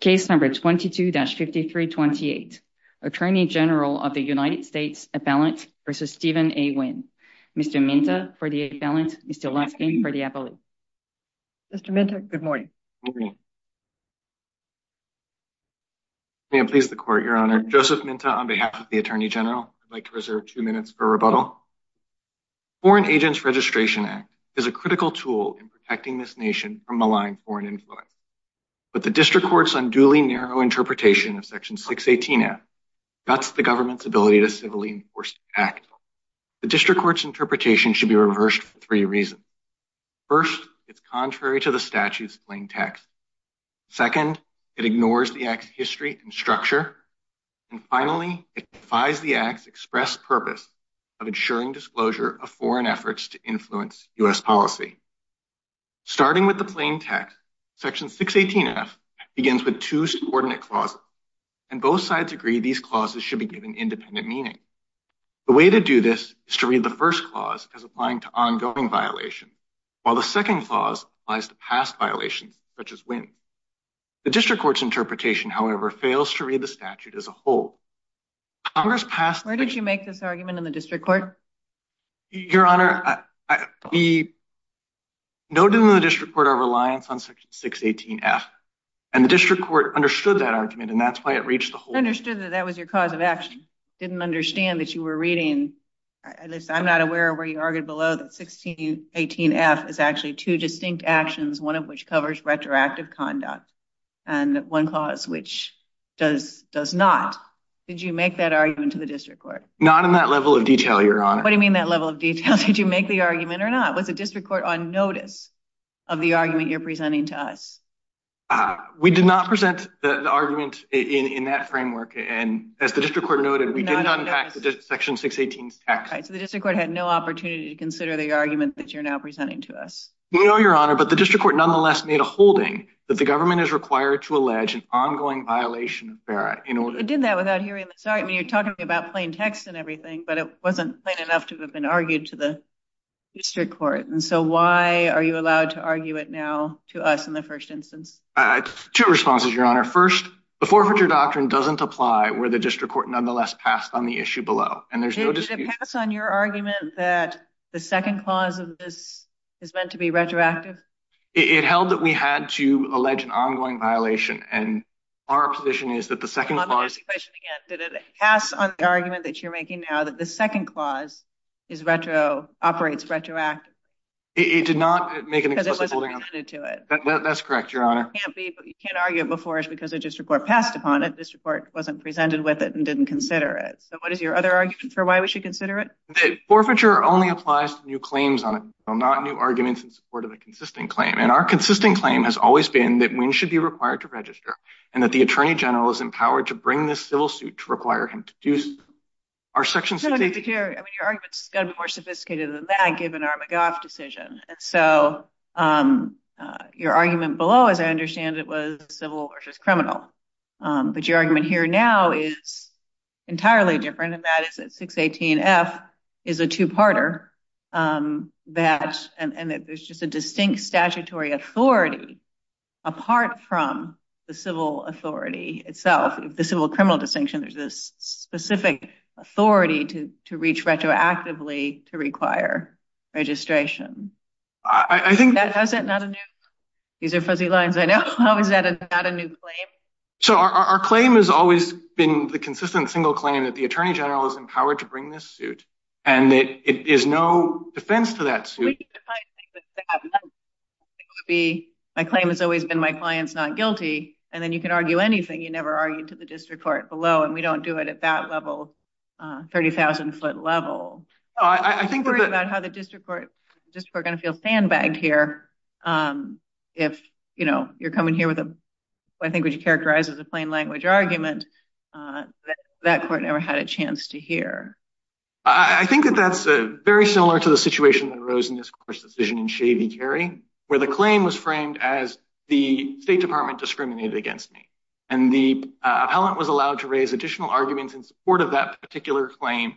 Case number 22-5328, Attorney General of the United States Appellant versus Stephen A. Wynn. Mr. Minta for the appellant, Mr. Lutskin for the appellate. Mr. Minta, good morning. May I please the court, your honor. Joseph Minta on behalf of the Attorney General. I'd like to reserve two minutes for rebuttal. Foreign Agents Registration Act is a critical tool in malign foreign influence. But the district court's unduly narrow interpretation of Section 618F guts the government's ability to civilly enforce the act. The district court's interpretation should be reversed for three reasons. First, it's contrary to the statute's plain text. Second, it ignores the act's history and structure. And finally, it defies the act's express purpose of ensuring disclosure of foreign efforts to influence U.S. policy. Starting with the plain text, Section 618F begins with two subordinate clauses, and both sides agree these clauses should be given independent meaning. The way to do this is to read the first clause as applying to ongoing violation, while the second clause applies to past violations, such as Wynn. The district court's interpretation, however, fails to read the statute as a whole. Where did you make this argument in the district court? Your Honor, we noted in the district court our reliance on Section 618F, and the district court understood that argument, and that's why it reached the whole. Understood that that was your cause of action. Didn't understand that you were reading, at least I'm not aware of where you argued below that 618F is actually two distinct actions, one of which covers retroactive conduct, and one clause which does not. Did you make that argument? What do you mean that level of detail? Did you make the argument or not? Was the district court on notice of the argument you're presenting to us? We did not present the argument in that framework, and as the district court noted, we did not unpack the Section 618 text. So the district court had no opportunity to consider the argument that you're now presenting to us? No, Your Honor, but the district court nonetheless made a holding that the government is required to allege an ongoing violation of FARA in order... It did that without hearing. Sorry, I mean, you're talking about plain text and everything, but it wasn't plain enough to have been argued to the district court. And so why are you allowed to argue it now to us in the first instance? Two responses, Your Honor. First, the forfeiture doctrine doesn't apply where the district court nonetheless passed on the issue below, and there's no dispute... Did it pass on your argument that the second clause of this is meant to be retroactive? It held that we had to allege an ongoing violation, and our position is that the second clause... The second clause is retro... Operates retroactively. It did not make an inclusive holding on it? Because it wasn't presented to it. That's correct, Your Honor. It can't be, but you can't argue it before it's because the district court passed upon it. This report wasn't presented with it and didn't consider it. So what is your other argument for why we should consider it? Forfeiture only applies to new claims on it, not new arguments in support of a consistent claim. And our consistent claim has always been that Wynne should be required to register, and that the Attorney General is empowered to bring this civil suit to require him to produce... I mean, your argument's got to be more sophisticated than that, given our McGaugh decision. And so your argument below, as I understand it, was civil versus criminal. But your argument here now is entirely different, and that is that 618F is a two-parter, and that there's just a distinct statutory authority apart from the civil authority itself. The civil-criminal distinction, there's this specific authority to reach retroactively to require registration. These are fuzzy lines, I know. How is that not a new claim? So our claim has always been the consistent single claim that the Attorney General is empowered to bring this suit, and that it is no defense to that suit. My claim has always been my client's not guilty, and then you can argue anything. You never argued to the district court below, and we don't do it at that level, 30,000-foot level. I'm worried about how the district court is going to feel sandbagged here if you're coming here with what I think would characterize as a plain language argument that that court never had a chance to hear. I think that that's very similar to the situation that arose in this court's decision in Shavey Carey, where the claim was framed as the State Department discriminated against me. And the appellant was allowed to raise additional arguments in support of that particular claim.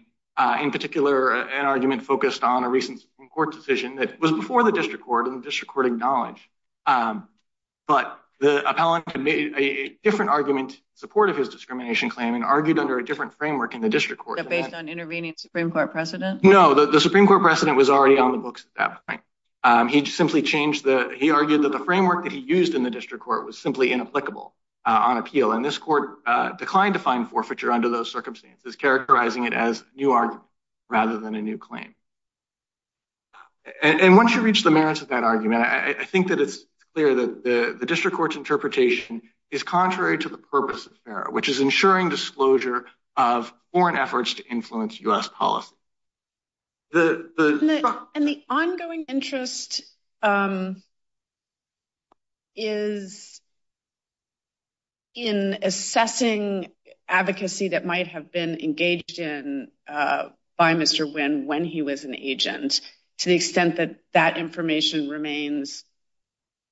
In particular, an argument focused on a recent court decision that was before the district court, and the district court acknowledged. But the appellant made a different argument in support of his discrimination claim and argued under a different framework in the district court. That based on intervening Supreme Court precedent? No, the Supreme Court precedent was already on the books at that point. He simply changed the, he argued that the framework that he used in the district court was simply inapplicable on appeal. And this court declined to find forfeiture under those circumstances, characterizing it as new argument rather than a new claim. And once you reach the merits of that argument, I think that it's clear that the district court's interpretation is contrary to the purpose of FARA, which is ensuring disclosure of foreign efforts to influence U.S. policy. And the ongoing interest is in assessing advocacy that might have been engaged in by Mr. Wynn when he was an agent, to the extent that that information remains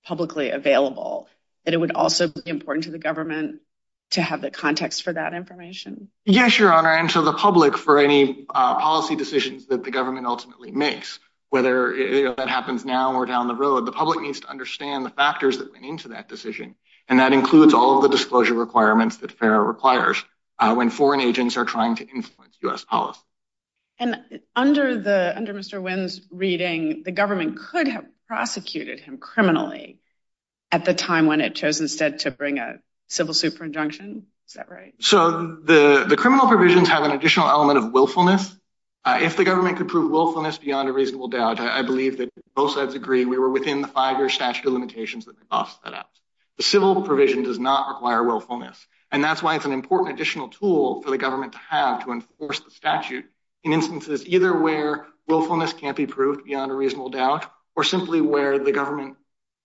publicly available, that it would also be important to the government to have the context for that information? Yes, Your Honor, and to the public for any policy decisions that the government ultimately makes, whether that happens now or down the road, the public needs to understand the factors that went into that decision. And that includes all of the disclosure requirements that FARA requires when foreign agents are trying to influence U.S. policy. And under Mr. Wynn's reading, the government could have prosecuted him criminally at the time when it chose instead to bring a civil suit for injunction. Is that right? So the criminal provisions have an additional element of willfulness. If the government could prove willfulness beyond a reasonable doubt, I believe that both sides agree we were within the five-year statute of limitations that they tossed that out. The civil provision does not require willfulness, and that's why it's an important additional tool for the government to have to enforce the statute in instances either where willfulness can't be proved beyond a reasonable doubt or simply where the government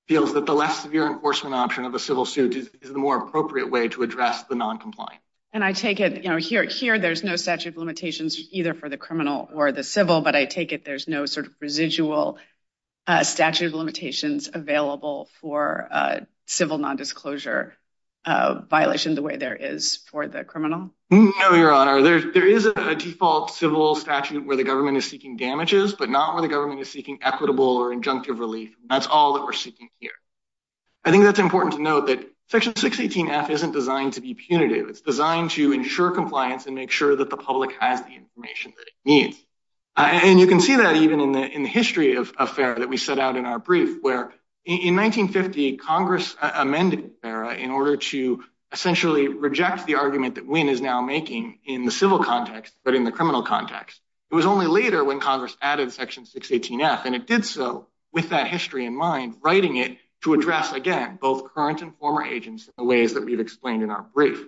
feels that the less severe enforcement option of a civil suit is the more appropriate way to address the noncompliant. And I take it here there's no statute of limitations either for the criminal or the civil, but I take it there's no sort of residual statute of limitations available for civil nondisclosure violation the way there is for the criminal? No, Your Honor. There is a default civil statute where the government is seeking damages, but not where the government is seeking equitable or injunctive relief. That's all that we're seeking here. I think that's important to note that Section 618F isn't designed to be punitive. It's designed to ensure compliance and make sure that the public has the information that it needs. And you can see that even in the history of FERA that we set out in our brief, where in 1950 Congress amended FERA in order to essentially reject the argument that Wynne is now making in the civil context but in the criminal context. It was only later when Congress added Section 618F, and it did so with that history in mind, writing it to address, again, both current and former agents in the ways that we've explained in our brief.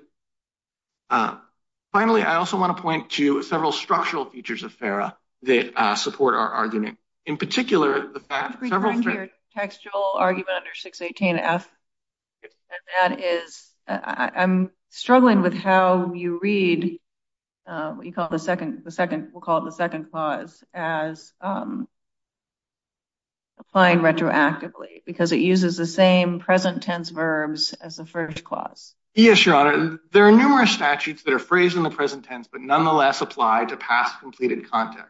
Finally, I also want to point to several structural features of FERA that support our argument. In particular, the fact that several… Recalling your textual argument under 618F, and that is, I'm struggling with how you read, we'll call it the second clause, as applying retroactively because it uses the same present tense verbs as the first clause. Yes, Your Honor. There are numerous statutes that are phrased in the present tense but nonetheless apply to past completed conduct.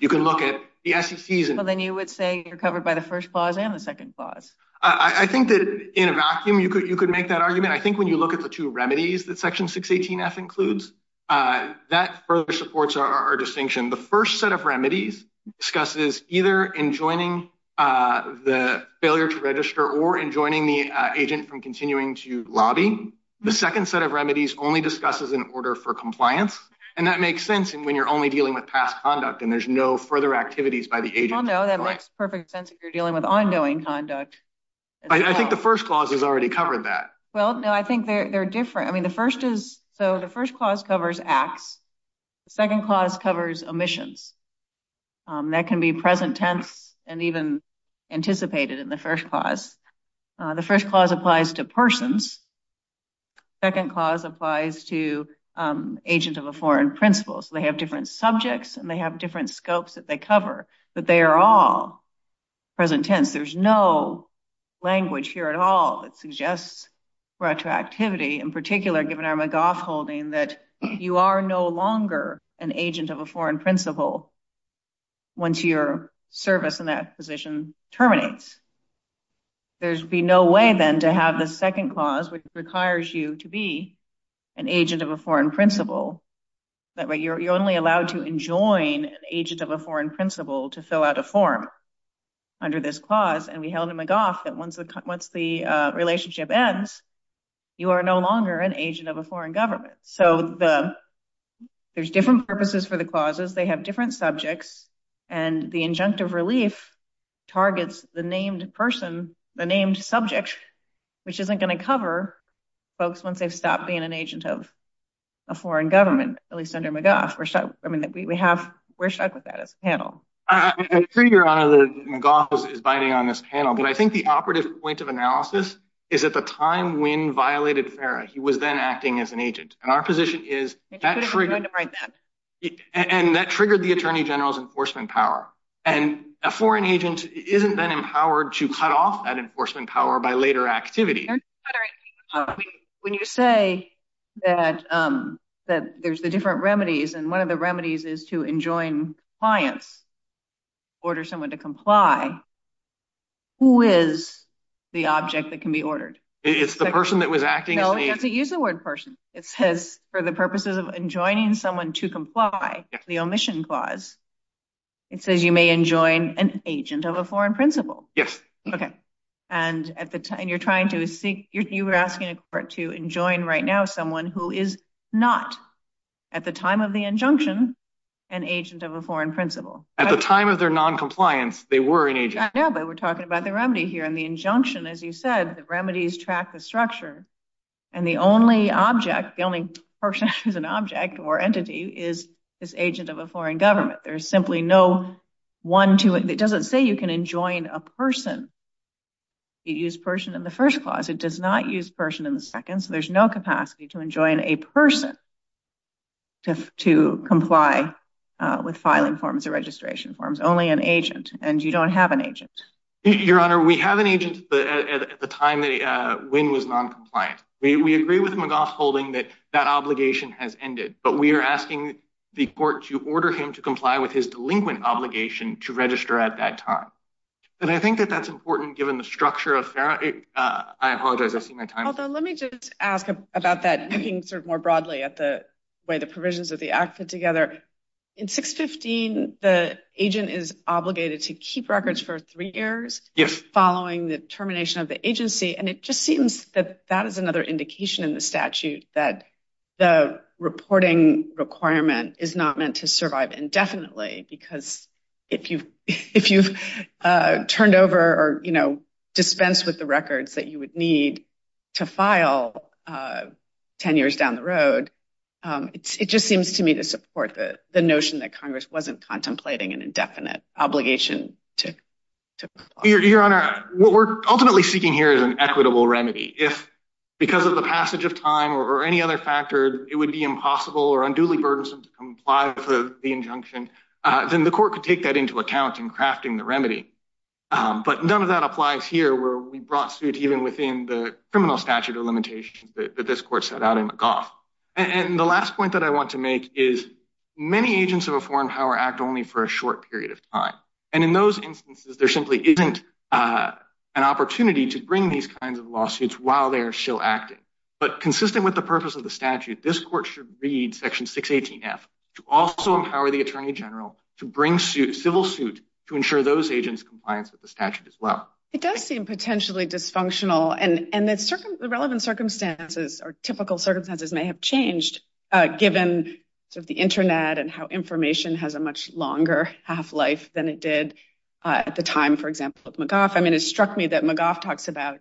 You can look at the SEC's… But then you would say you're covered by the first clause and the second clause. I think that in a vacuum you could make that argument. I think when you look at the two remedies that Section 618F includes, that further supports our distinction. The first set of remedies discusses either enjoining the failure to register or enjoining the agent from continuing to lobby. The second set of remedies only discusses an order for compliance, and that makes sense when you're only dealing with past conduct and there's no further activities by the agent. Well, no, that makes perfect sense if you're dealing with ongoing conduct. I think the first clause has already covered that. Well, no, I think they're different. I mean, the first is… So, the first clause covers acts. The second clause covers omissions. That can be present tense and even anticipated in the first clause. The first clause applies to persons. The second clause applies to agents of a foreign principle. So, they have different subjects and they have different scopes that they cover, but they are all present tense. There's no language here at all that suggests retroactivity, in particular given our McGough holding that you are no longer an agent of a foreign principle once your service in that position terminates. There'd be no way then to have the second clause, which requires you to be an agent of a foreign principle. That way, you're only allowed to enjoin an agent of a foreign principle to fill out a form. Under this clause, and we held in McGough that once the relationship ends, you are no longer an agent of a foreign government. So, there's different purposes for the clauses. They have different subjects and the injunctive relief targets the named person, the named subject, which isn't going to cover folks once they've stopped being an agent of a foreign government, at least under McGough. We're stuck with that as a panel. I agree, Your Honor, that McGough is biting on this panel, but I think the operative point of analysis is at the time Wynne violated FARA, he was then acting as an agent. And our position is that triggered the Attorney General's enforcement power. And a foreign agent isn't then empowered to cut off that enforcement power by later activity. When you say that there's the different remedies, and one of the remedies is to enjoin compliance, order someone to comply. Who is the object that can be ordered? It's the person that was acting as an agent. No, you have to use the word person. It says for the purposes of enjoining someone to comply, the omission clause, it says you may enjoin an agent of a foreign principle. Yes. Okay. And at the time you're trying to seek, you were asking a court to enjoin right now someone who is not, at the time of the injunction, an agent of a foreign principle. At the time of their noncompliance, they were an agent. I know, but we're talking about the remedy here. And the injunction, as you said, the remedies track the structure. And the only object, the only person who's an object or entity is this agent of a foreign government. There's simply no one to it. It doesn't say you can enjoin a person. It used person in the first clause. It does not use person in the second. So there's no capacity to enjoin a person to comply with filing forms or registration forms. Only an agent. And you don't have an agent. Your Honor, we have an agent at the time that Wynn was noncompliant. We agree with McGaugh holding that that obligation has ended. But we are asking the court to order him to comply with his delinquent obligation to register at that time. And I think that that's important given the structure of, I apologize, I see my time. Let me just ask about that, looking sort of more broadly at the way the provisions of the act fit together. In 615, the agent is obligated to keep records for three years following the termination of the agency. And it just seems that that is another indication in the statute that the reporting requirement is not meant to survive indefinitely. Because if you if you've turned over or, you know, dispensed with the records that you would need to file 10 years down the road, it just seems to me to support the notion that Congress wasn't contemplating an indefinite obligation to comply. Your Honor, what we're ultimately seeking here is an equitable remedy. If because of the passage of time or any other factor, it would be impossible or unduly burdensome to comply with the injunction, then the court could take that into account in crafting the remedy. But none of that applies here where we brought suit, even within the criminal statute of limitations that this court set out in McGough. And the last point that I want to make is many agents of a foreign power act only for a short period of time. And in those instances, there simply isn't an opportunity to bring these kinds of lawsuits while they're still acting. But consistent with the purpose of the statute, this court should read Section 618F to also the statute as well. It does seem potentially dysfunctional. And the relevant circumstances or typical circumstances may have changed, given sort of the internet and how information has a much longer half-life than it did at the time, for example, of McGough. I mean, it struck me that McGough talks about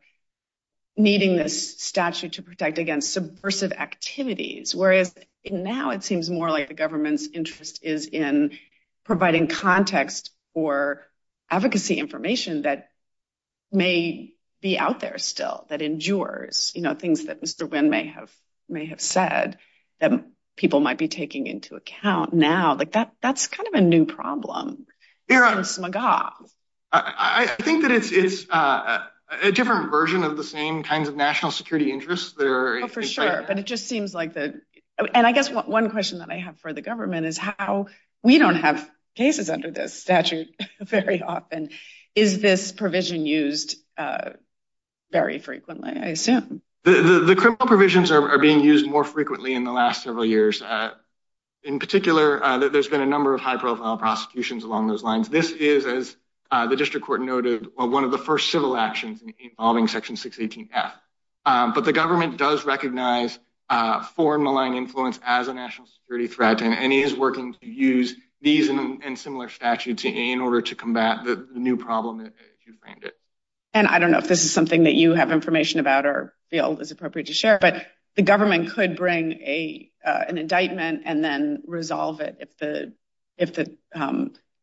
needing this statute to protect against subversive activities, whereas now it seems more like the government's interest is in providing context for advocacy information that may be out there still, that endures, you know, things that Mr. Wynn may have said that people might be taking into account now. Like, that's kind of a new problem. I think that it's a different version of the same kinds of national security interests. Oh, for sure. But it just seems like the—and I guess one question that I have for the government is how we don't have cases under this statute very often. Is this provision used very frequently, I assume? The criminal provisions are being used more frequently in the last several years. In particular, there's been a number of high-profile prosecutions along those lines. This is, as the district court noted, one of the first civil actions involving Section 618F. But the government does recognize foreign malign influence as a national security threat, and he is working to use these and similar statutes in order to combat the new problem. And I don't know if this is something that you have information about or feel is appropriate to share, but the government could bring an indictment and then resolve it if the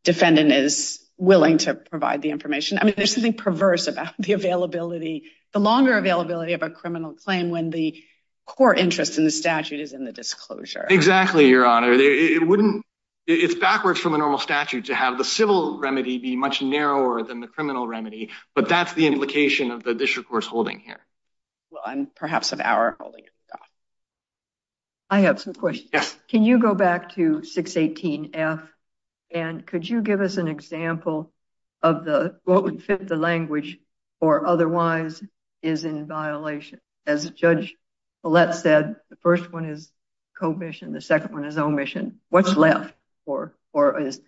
defendant is willing to provide the information. I mean, there's something perverse about the availability, the longer availability of a criminal claim when the core interest in the statute is in the disclosure. Exactly, Your Honor. It's backwards from the normal statute to have the civil remedy be much narrower than the criminal remedy, but that's the implication of the district court's holding here. And perhaps of our holding. I have some questions. Can you go back to 618F, and could you give us an example of what would fit the language or otherwise is in violation? As Judge Paulette said, the first one is co-mission, the second one is omission. What's left or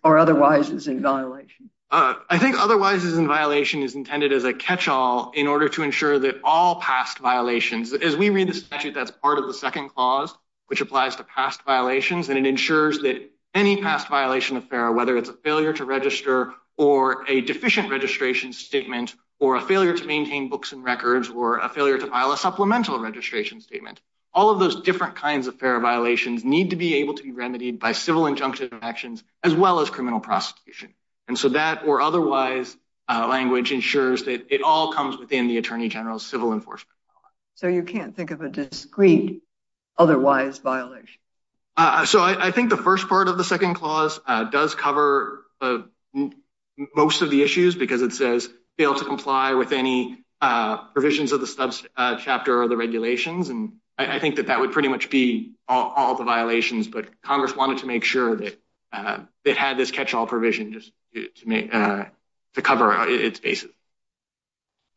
otherwise is in violation? I think otherwise is in violation is intended as a catch-all in order to ensure that all past violations, as we read the statute, that's part of the second clause, which applies to past violations, and it ensures that any past violation affair, whether it's a failure to register or a deficient registration statement or a failure to maintain books and records or a failure to file a supplemental registration statement, all of those different kinds of fair violations need to be able to be remedied by civil injunctive actions as well as criminal prosecution. And so that or otherwise language ensures that it all comes within the Attorney General's civil enforcement. So you can't think of a discrete otherwise violation? So I think the first part of the second clause does cover most of the issues because it says fail to comply with any provisions of the subchapter or the regulations. And I think that that would pretty much be all the violations, but Congress wanted to make sure that it had this catch-all provision just to cover its basis.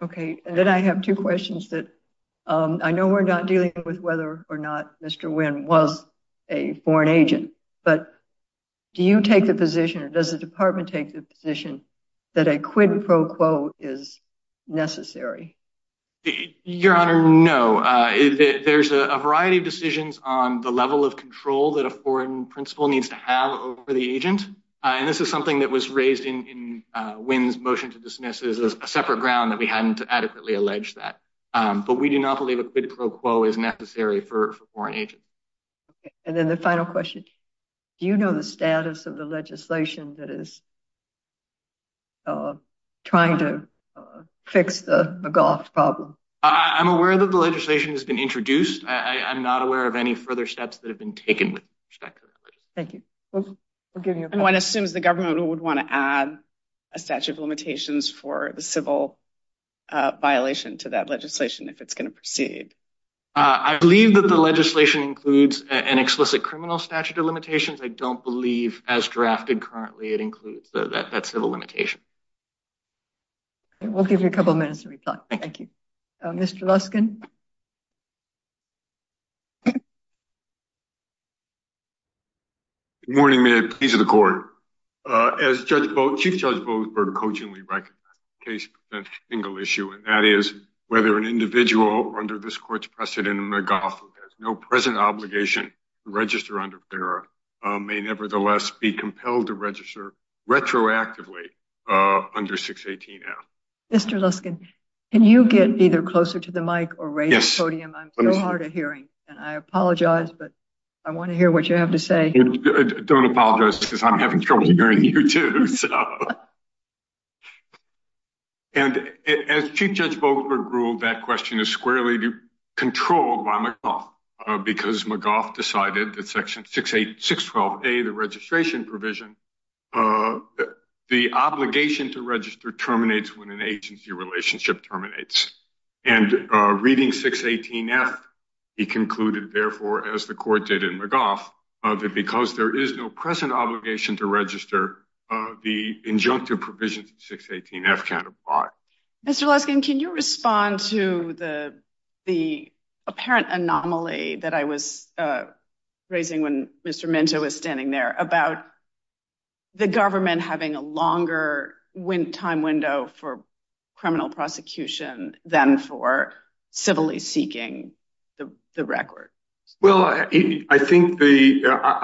Okay, and then I have two questions that I know we're not dealing with whether or not Mr. Nguyen was a foreign agent, but do you take the position or does the department take the position that a quid pro quo is necessary? Your Honor, no. There's a variety of decisions on the level of control that a foreign principal needs to have over the agent. And this is something that was raised in Nguyen's motion to dismiss as a separate ground that we hadn't adequately alleged that. But we do not believe a quid pro quo is necessary for foreign agents. And then the final question. Do you know the status of the legislation that is trying to fix the McGaugh problem? I'm aware that the legislation has been introduced. I'm not aware of any further steps that have been taken with respect to that. Thank you. Nguyen assumes the government would want to add a statute of limitations for the civil violation to that legislation if it's going to proceed. I believe that the legislation includes an explicit criminal statute of limitations. I don't believe, as drafted currently, it includes that civil limitation. We'll give you a couple of minutes to reply. Thank you. Mr. Luskin. Good morning, Mayor. Please, to the Court. As Chief Judge Boasberg cogently recognized, the case presents a single issue, and that is whether an individual under this Court's precedent in McGaugh, who has no present obligation to register under FERA, may nevertheless be compelled to register retroactively under 618-F. Mr. Luskin, can you get either closer to the mic or raise the podium? I'm so hard of hearing, and I apologize, but I want to hear what you have to say. Don't apologize, because I'm having trouble hearing you, too. As Chief Judge Boasberg ruled, that question is squarely controlled by McGaugh, because McGaugh decided that Section 612-A, the registration provision, the obligation to register terminates when an agency relationship terminates. And reading 618-F, he concluded, therefore, as the Court did in McGaugh, the injunctive provisions of 618-F cannot apply. Mr. Luskin, can you respond to the apparent anomaly that I was raising when Mr. Minto was standing there about the government having a longer time window for criminal prosecution than for civilly seeking the record? Well, I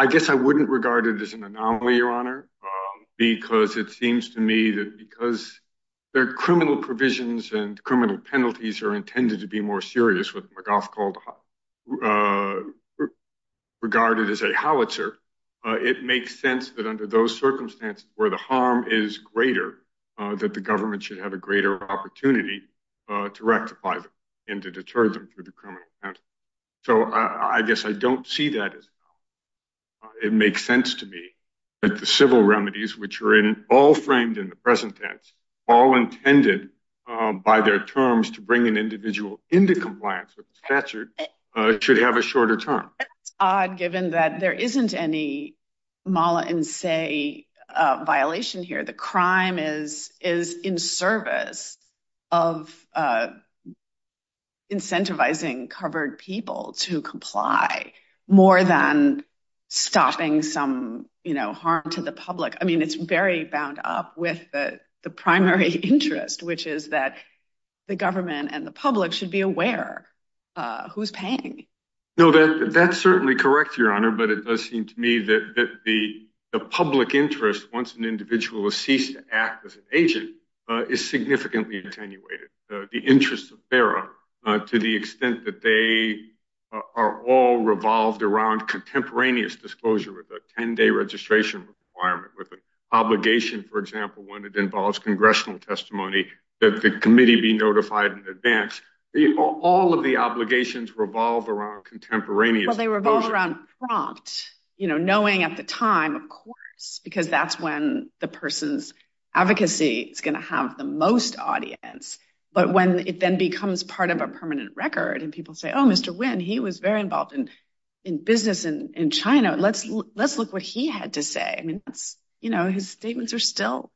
guess I wouldn't regard it as an anomaly, Your Honor, because it seems to me that because their criminal provisions and criminal penalties are intended to be more serious, what McGaugh regarded as a howitzer, it makes sense that under those circumstances where the harm is greater, that the government should have a greater opportunity to rectify them and to deter them through the criminal penalty. So, I guess I don't see that as an anomaly. It makes sense to me that the civil remedies, which are all framed in the present tense, all intended by their terms to bring an individual into compliance with the statute, should have a shorter term. I think it's odd, given that there isn't any mala in se violation here. The crime is in service of incentivizing covered people to comply more than stopping some harm to the public. I mean, it's very bound up with the primary interest, which is that the government and the public should be aware who's paying. No, that's certainly correct, Your Honor, but it does seem to me that the public interest, once an individual has ceased to act as an agent, is significantly attenuated. The interests of FARA, to the extent that they are all revolved around contemporaneous disclosure with a 10-day registration requirement, with an obligation, for example, when it involves congressional testimony, that the committee be notified in advance. All of the obligations revolve around contemporaneous disclosure. Well, they revolve around prompt, knowing at the time, of course, because that's when the person's advocacy is going to have the most audience. But when it then becomes part of a permanent record and people say, oh, Mr. Nguyen, he was very involved in business in China. Let's look what he had to say. I mean, his statements are still,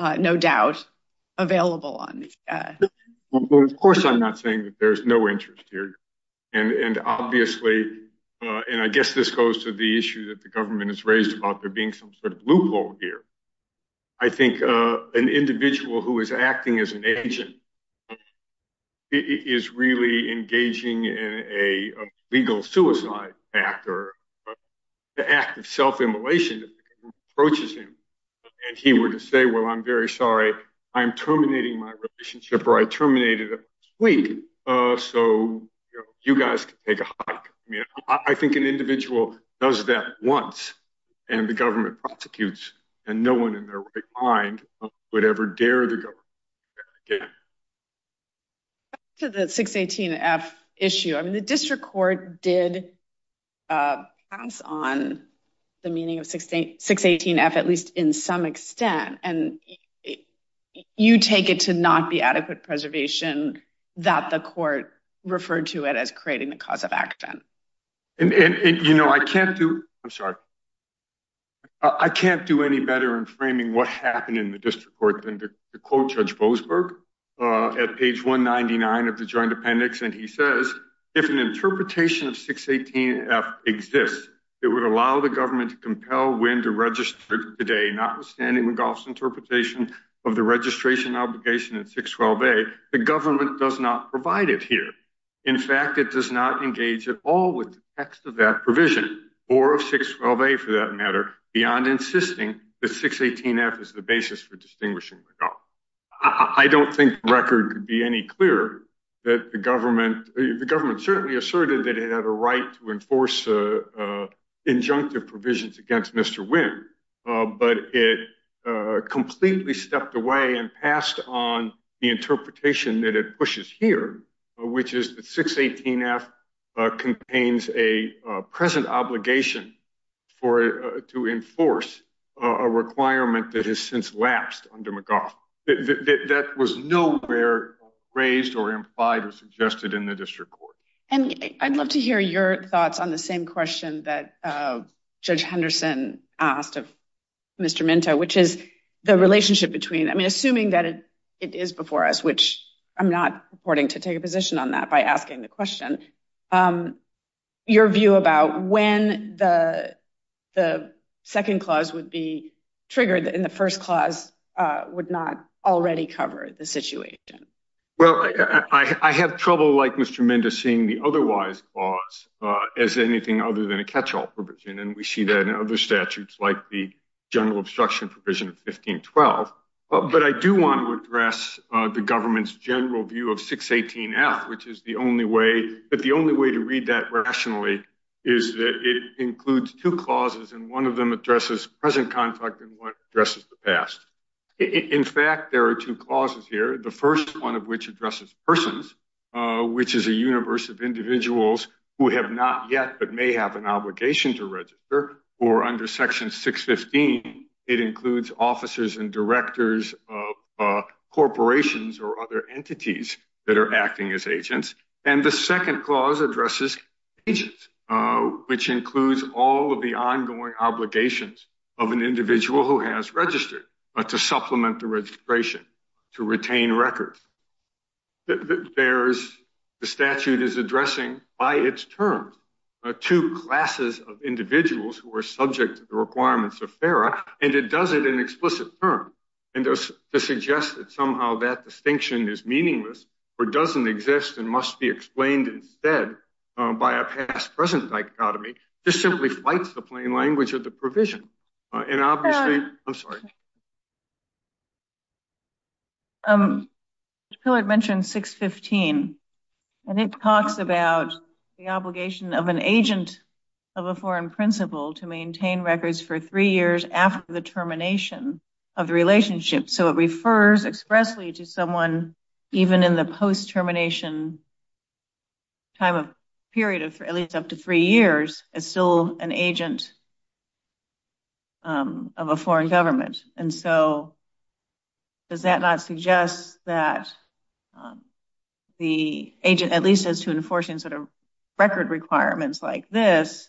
no doubt, available. Well, of course, I'm not saying that there's no interest here. And obviously, and I guess this goes to the issue that the government has raised about there being some sort of loophole here. I think an individual who is acting as an agent is really engaging in a legal suicide act, or the act of self-immolation, if the government approaches him and he were to say, well, I'm very sorry, I am terminating my relationship, or I terminated it last week, so you guys can take a hike. I mean, I think an individual does that once, and the government prosecutes, and no one in their right mind would ever dare the government to do that again. Back to the 618F issue. I mean, the district court did pass on the meaning of 618F, at least in some extent, and you take it to not be adequate preservation that the court referred to it as creating the cause of accident. And, you know, I can't do, I'm sorry, I can't do any better in framing what happened in the district court than to quote Judge Boasberg at page 199 of the joint appendix, and he says, if an 618F exists, it would allow the government to compel when to register it today, notwithstanding McGough's interpretation of the registration obligation in 612A, the government does not provide it here. In fact, it does not engage at all with the text of that provision, or of 612A, for that matter, beyond insisting that 618F is the basis for distinguishing McGough. I don't think the record could be any clearer that the government, the government certainly asserted that it had a force injunctive provisions against Mr. Wynn, but it completely stepped away and passed on the interpretation that it pushes here, which is that 618F contains a present obligation for, to enforce a requirement that has since lapsed under McGough. That was nowhere raised or implied or suggested in the district court. And I'd love to hear your thoughts on the same question that Judge Henderson asked of Mr. Minto, which is the relationship between, I mean, assuming that it is before us, which I'm not reporting to take a position on that by asking the question, your view about when the second clause would be triggered in the first clause would not already cover the situation. Well, I have trouble like Mr. Minto seeing the otherwise clause as anything other than a catch-all provision, and we see that in other statutes like the general obstruction provision of 1512. But I do want to address the government's general view of 618F, which is the only way, that the only way to read that rationally is that it includes two what addresses the past. In fact, there are two clauses here. The first one of which addresses persons, which is a universe of individuals who have not yet, but may have an obligation to register or under section 615, it includes officers and directors of corporations or other entities that are acting as agents. And the second clause addresses agents, which includes all of the ongoing obligations of an individual who has registered to supplement the registration, to retain records. There's, the statute is addressing by its terms, two classes of individuals who are subject to the requirements of FERA, and it does it in explicit terms. And to suggest that somehow that distinction is meaningless or doesn't exist and must be explained instead by a past-present dichotomy, this simply fights the plain language of the provision. And obviously, I'm sorry. Um, Mr. Pillard mentioned 615, and it talks about the obligation of an agent of a foreign principal to maintain records for three years after the termination of the relationship. So it refers expressly to someone even in the post-termination time of period of at least up to three years as still an agent of a foreign government. And so does that not suggest that the agent, at least as to enforcing sort of record requirements like this,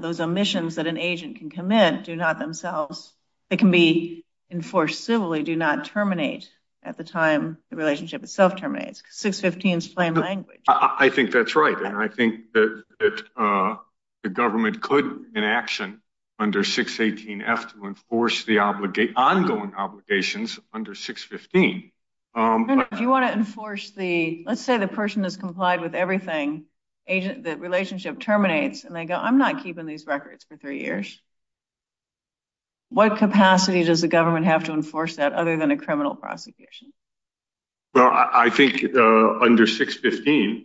those omissions that an agent can commit do not themselves, they can be enforced civilly, do not terminate at the time the relationship itself terminates. 615 is plain language. I think that's right, and I think that the government could in action under 618F to enforce the ongoing obligations under 615. Do you want to enforce the, let's say the person has complied with everything, the relationship terminates, and they go, I'm not keeping these records for three years. What capacity does the government have to enforce that other than a criminal prosecution? Well, I think under 615,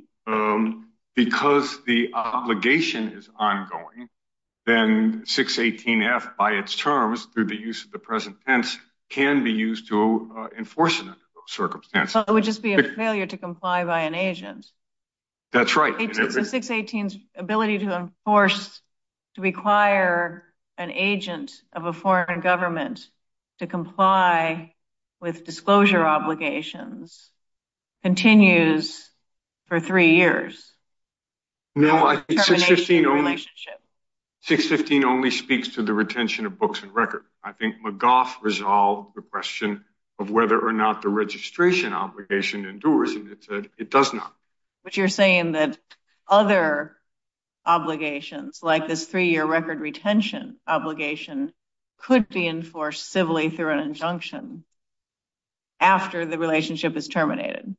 because the obligation is ongoing, then 618F by its terms through the use of the present tense can be used to enforce it under those circumstances. It would just be a failure to comply by an agent. That's right. 618's ability to enforce, to require an agent of a foreign government to comply with disclosure obligations continues for three years. No, 615 only speaks to the retention of books and records. I think McGough resolved the question of whether or not the registration obligation endures, and it said it does not. But you're saying that other obligations like this three-year record retention obligation could be enforced civilly through an injunction after the relationship is terminated.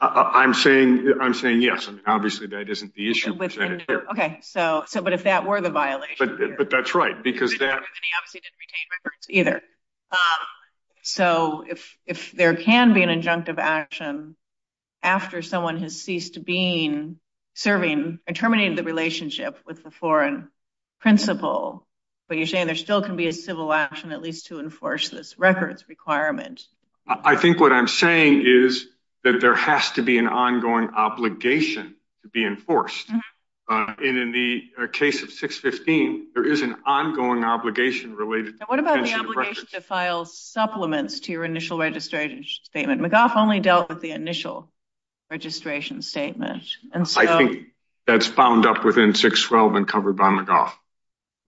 I'm saying yes. Obviously, that isn't the issue. Okay. But if that were the violation- But that's right. So if there can be an injunctive action after someone has ceased to be serving and terminating the relationship with a foreign principal, but you're saying there still can be a civil action at least to enforce this records requirement. I think what I'm saying is that there has to be an ongoing obligation to be enforced. And in the case of 615, there is an ongoing obligation related- And what about the obligation to file supplements to your initial registration statement? McGough only dealt with the initial registration statement. I think that's bound up within 612 and covered by McGough.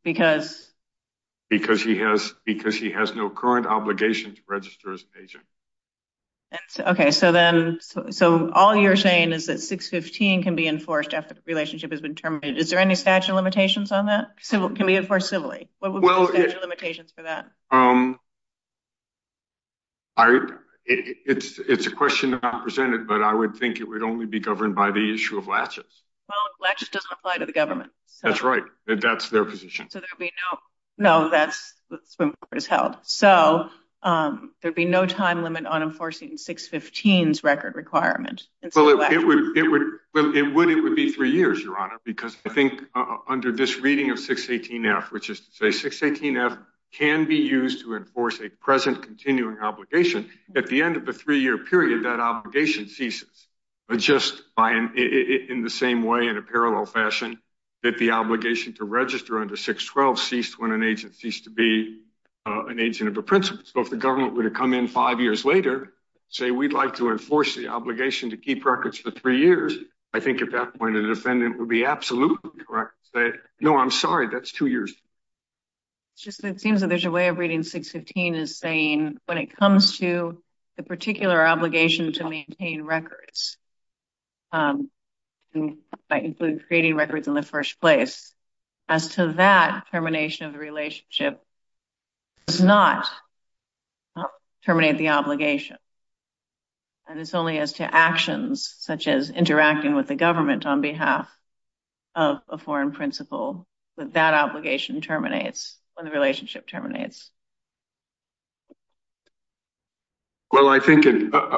Because? Because he has no current obligation to register as an agent. Okay. So all you're saying is that 615 can be enforced after the relationship has been terminated. Is there any statute of limitations on that? It can be enforced civilly. What would I present it, but I would think it would only be governed by the issue of latches. Well, latches doesn't apply to the government. That's right. That's their position. No, that's what is held. So there'd be no time limit on enforcing 615's record requirement. It would. It would be three years, Your Honor, because I think under this reading of 618F, which is to say 618F can be used to enforce a present continuing obligation at the end of a three-year period, that obligation ceases. But just in the same way, in a parallel fashion, that the obligation to register under 612 ceased when an agent ceased to be an agent of a principal. So if the government were to come in five years later and say, we'd like to enforce the obligation to keep records for three years, I think at that point, a defendant would be absolutely correct to say, no, I'm sorry, that's two years. It's just, it seems that there's a way of reading 615 as saying, when it comes to the particular obligation to maintain records, by including creating records in the first place, as to that termination of the relationship, does not terminate the obligation. And it's only as to actions, such as interacting with the government on behalf of a foreign principal, that that obligation terminates when the relationship terminates. Well, I think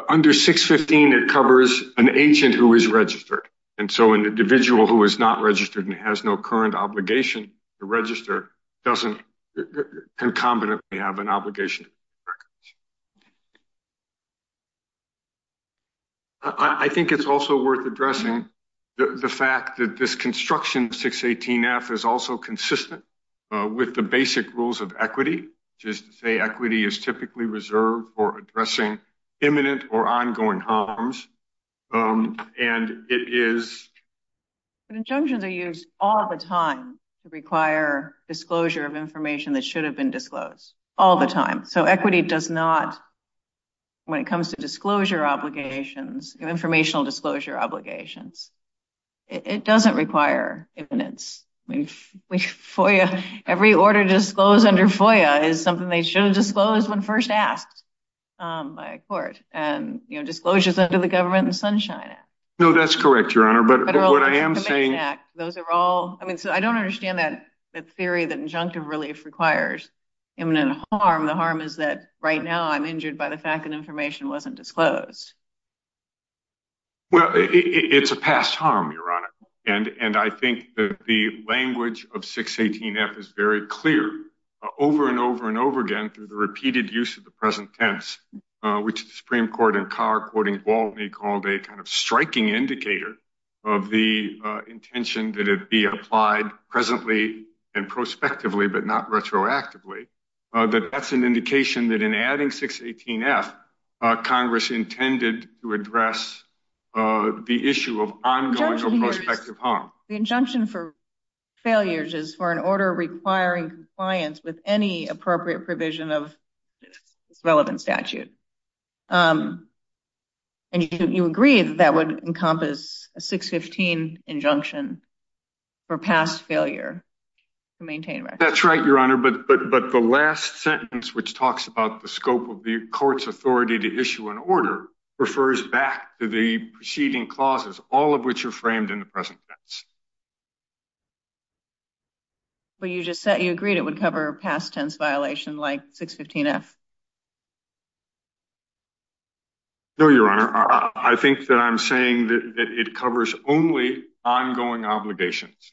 under 615, it covers an agent who is registered. And so an individual who is not registered and has no current obligation to register doesn't concomitantly have an obligation to keep records. I think it's also worth addressing the fact that this construction 618-F is also consistent with the basic rules of equity, which is to say equity is typically reserved for addressing imminent or ongoing harms. And it is... Conjunctions are used all the time to require disclosure of information that should have been disclosed, all the time. So equity does not, when it comes to disclosure obligations, informational disclosure obligations, it doesn't require imminence. Every order disclosed under FOIA is something they should have disclosed when first asked by a court. And disclosures under the Government and Sunshine Act. No, that's correct, Your Honor, but what I am saying... I don't understand that theory that injunctive relief requires imminent harm. The harm is that right now I'm injured by the fact that information wasn't disclosed. Well, it's a past harm, Your Honor. And I think that the language of 618-F is very clear over and over and over again through the repeated use of the present tense, which the Supreme Court in Carr, quoting Baltimore, called a kind of striking indicator of the intention that it be applied presently and prospectively, but not retroactively. That's an indication that in adding 618-F, Congress intended to address the issue of ongoing or prospective harm. The injunction for failures is for an order requiring compliance with any appropriate provision of relevant statute. And you agree that that would encompass a 615 injunction for past failure to maintain... That's right, Your Honor, but the last sentence, which talks about the scope of the court's authority to issue an order, refers back to the preceding clauses, all of which are framed in the present tense. But you just said you agreed it would cover a past tense violation like 615-F. No, Your Honor. I think that I'm saying that it covers only ongoing obligations,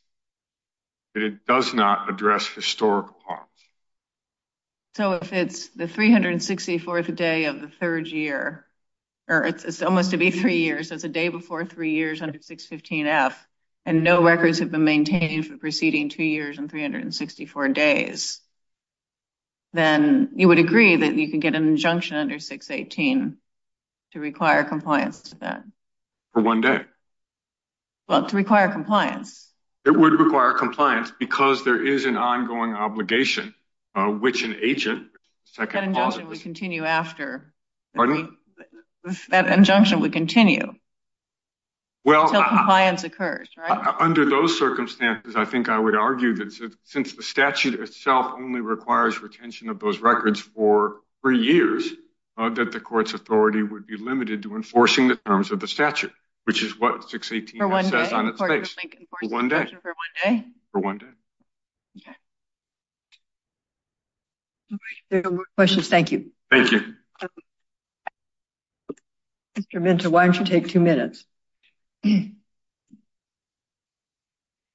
that it does not address historical harms. So if it's the 364th day of the third year, or it's almost to be three years, that's a day before three years under 615-F, and no records have been maintained for the preceding two years and 364 days, then you would agree that you can get an injunction under 618 to require compliance to that? For one day. Well, to require compliance. It would require compliance because there is an ongoing obligation, which an agent... That injunction would continue after. Pardon me? That injunction would continue. Until compliance occurs, right? Well, under those circumstances, I think I would argue that since the statute itself only requires retention of those records for three years, that the court's authority would be limited to enforcing the terms of the statute, which is what 618-S says on its face. For one day? For one day. For one day? For one day. Okay. If there are no more questions, thank you. Thank you. Mr. Minter, why don't you take two minutes? Thank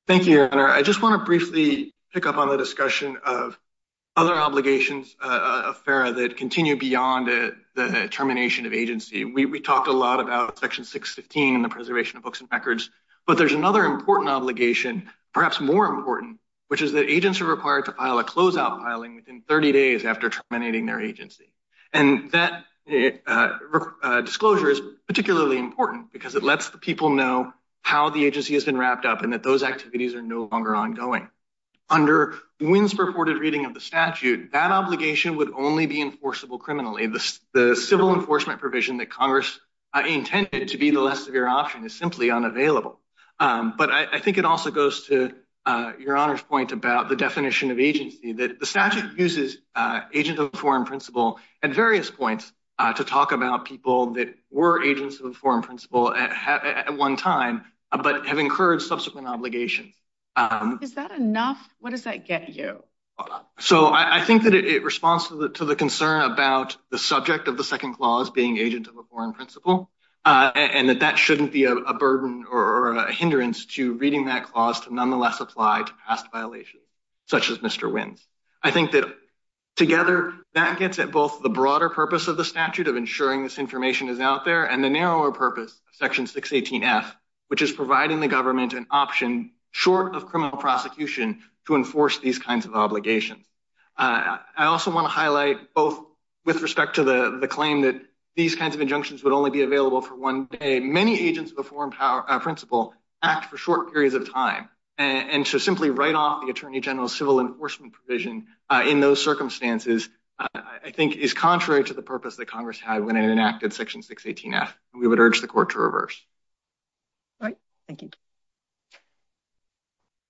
you, Your Honor. I just want to briefly pick up on the discussion of other obligations of FERA that continue beyond the termination of agency. We talked a lot about Section 615 and the preservation of books and records, but there's another important obligation, perhaps more important, which is that agents are required to file a closeout filing within 30 days after terminating their agency. And that disclosure is particularly important because it lets the people know how the agency has been wrapped up and that those activities are no longer ongoing. Under Winn's purported reading of the statute, that obligation would only be enforceable criminally. The civil enforcement provision that Congress intended to be the less severe option is simply unavailable. But I think it also goes to Your Honor's point about definition of agency, that the statute uses agents of a foreign principle at various points to talk about people that were agents of a foreign principle at one time, but have incurred subsequent obligations. Is that enough? What does that get you? So I think that it responds to the concern about the subject of the second clause being agent of a foreign principle and that that shouldn't be a burden or a hindrance to reading that clause to nonetheless apply to past violations, such as Mr. Winn's. I think that together that gets at both the broader purpose of the statute of ensuring this information is out there and the narrower purpose of Section 618F, which is providing the government an option short of criminal prosecution to enforce these kinds of obligations. I also want to highlight both with respect to the claim that these kinds of injunctions would only be available for one day. Many agents of a foreign principle act for short periods of time, and to simply write off the Attorney General's civil enforcement provision in those circumstances, I think, is contrary to the purpose that Congress had when it enacted Section 618F. We would urge the Court to reverse. All right, thank you.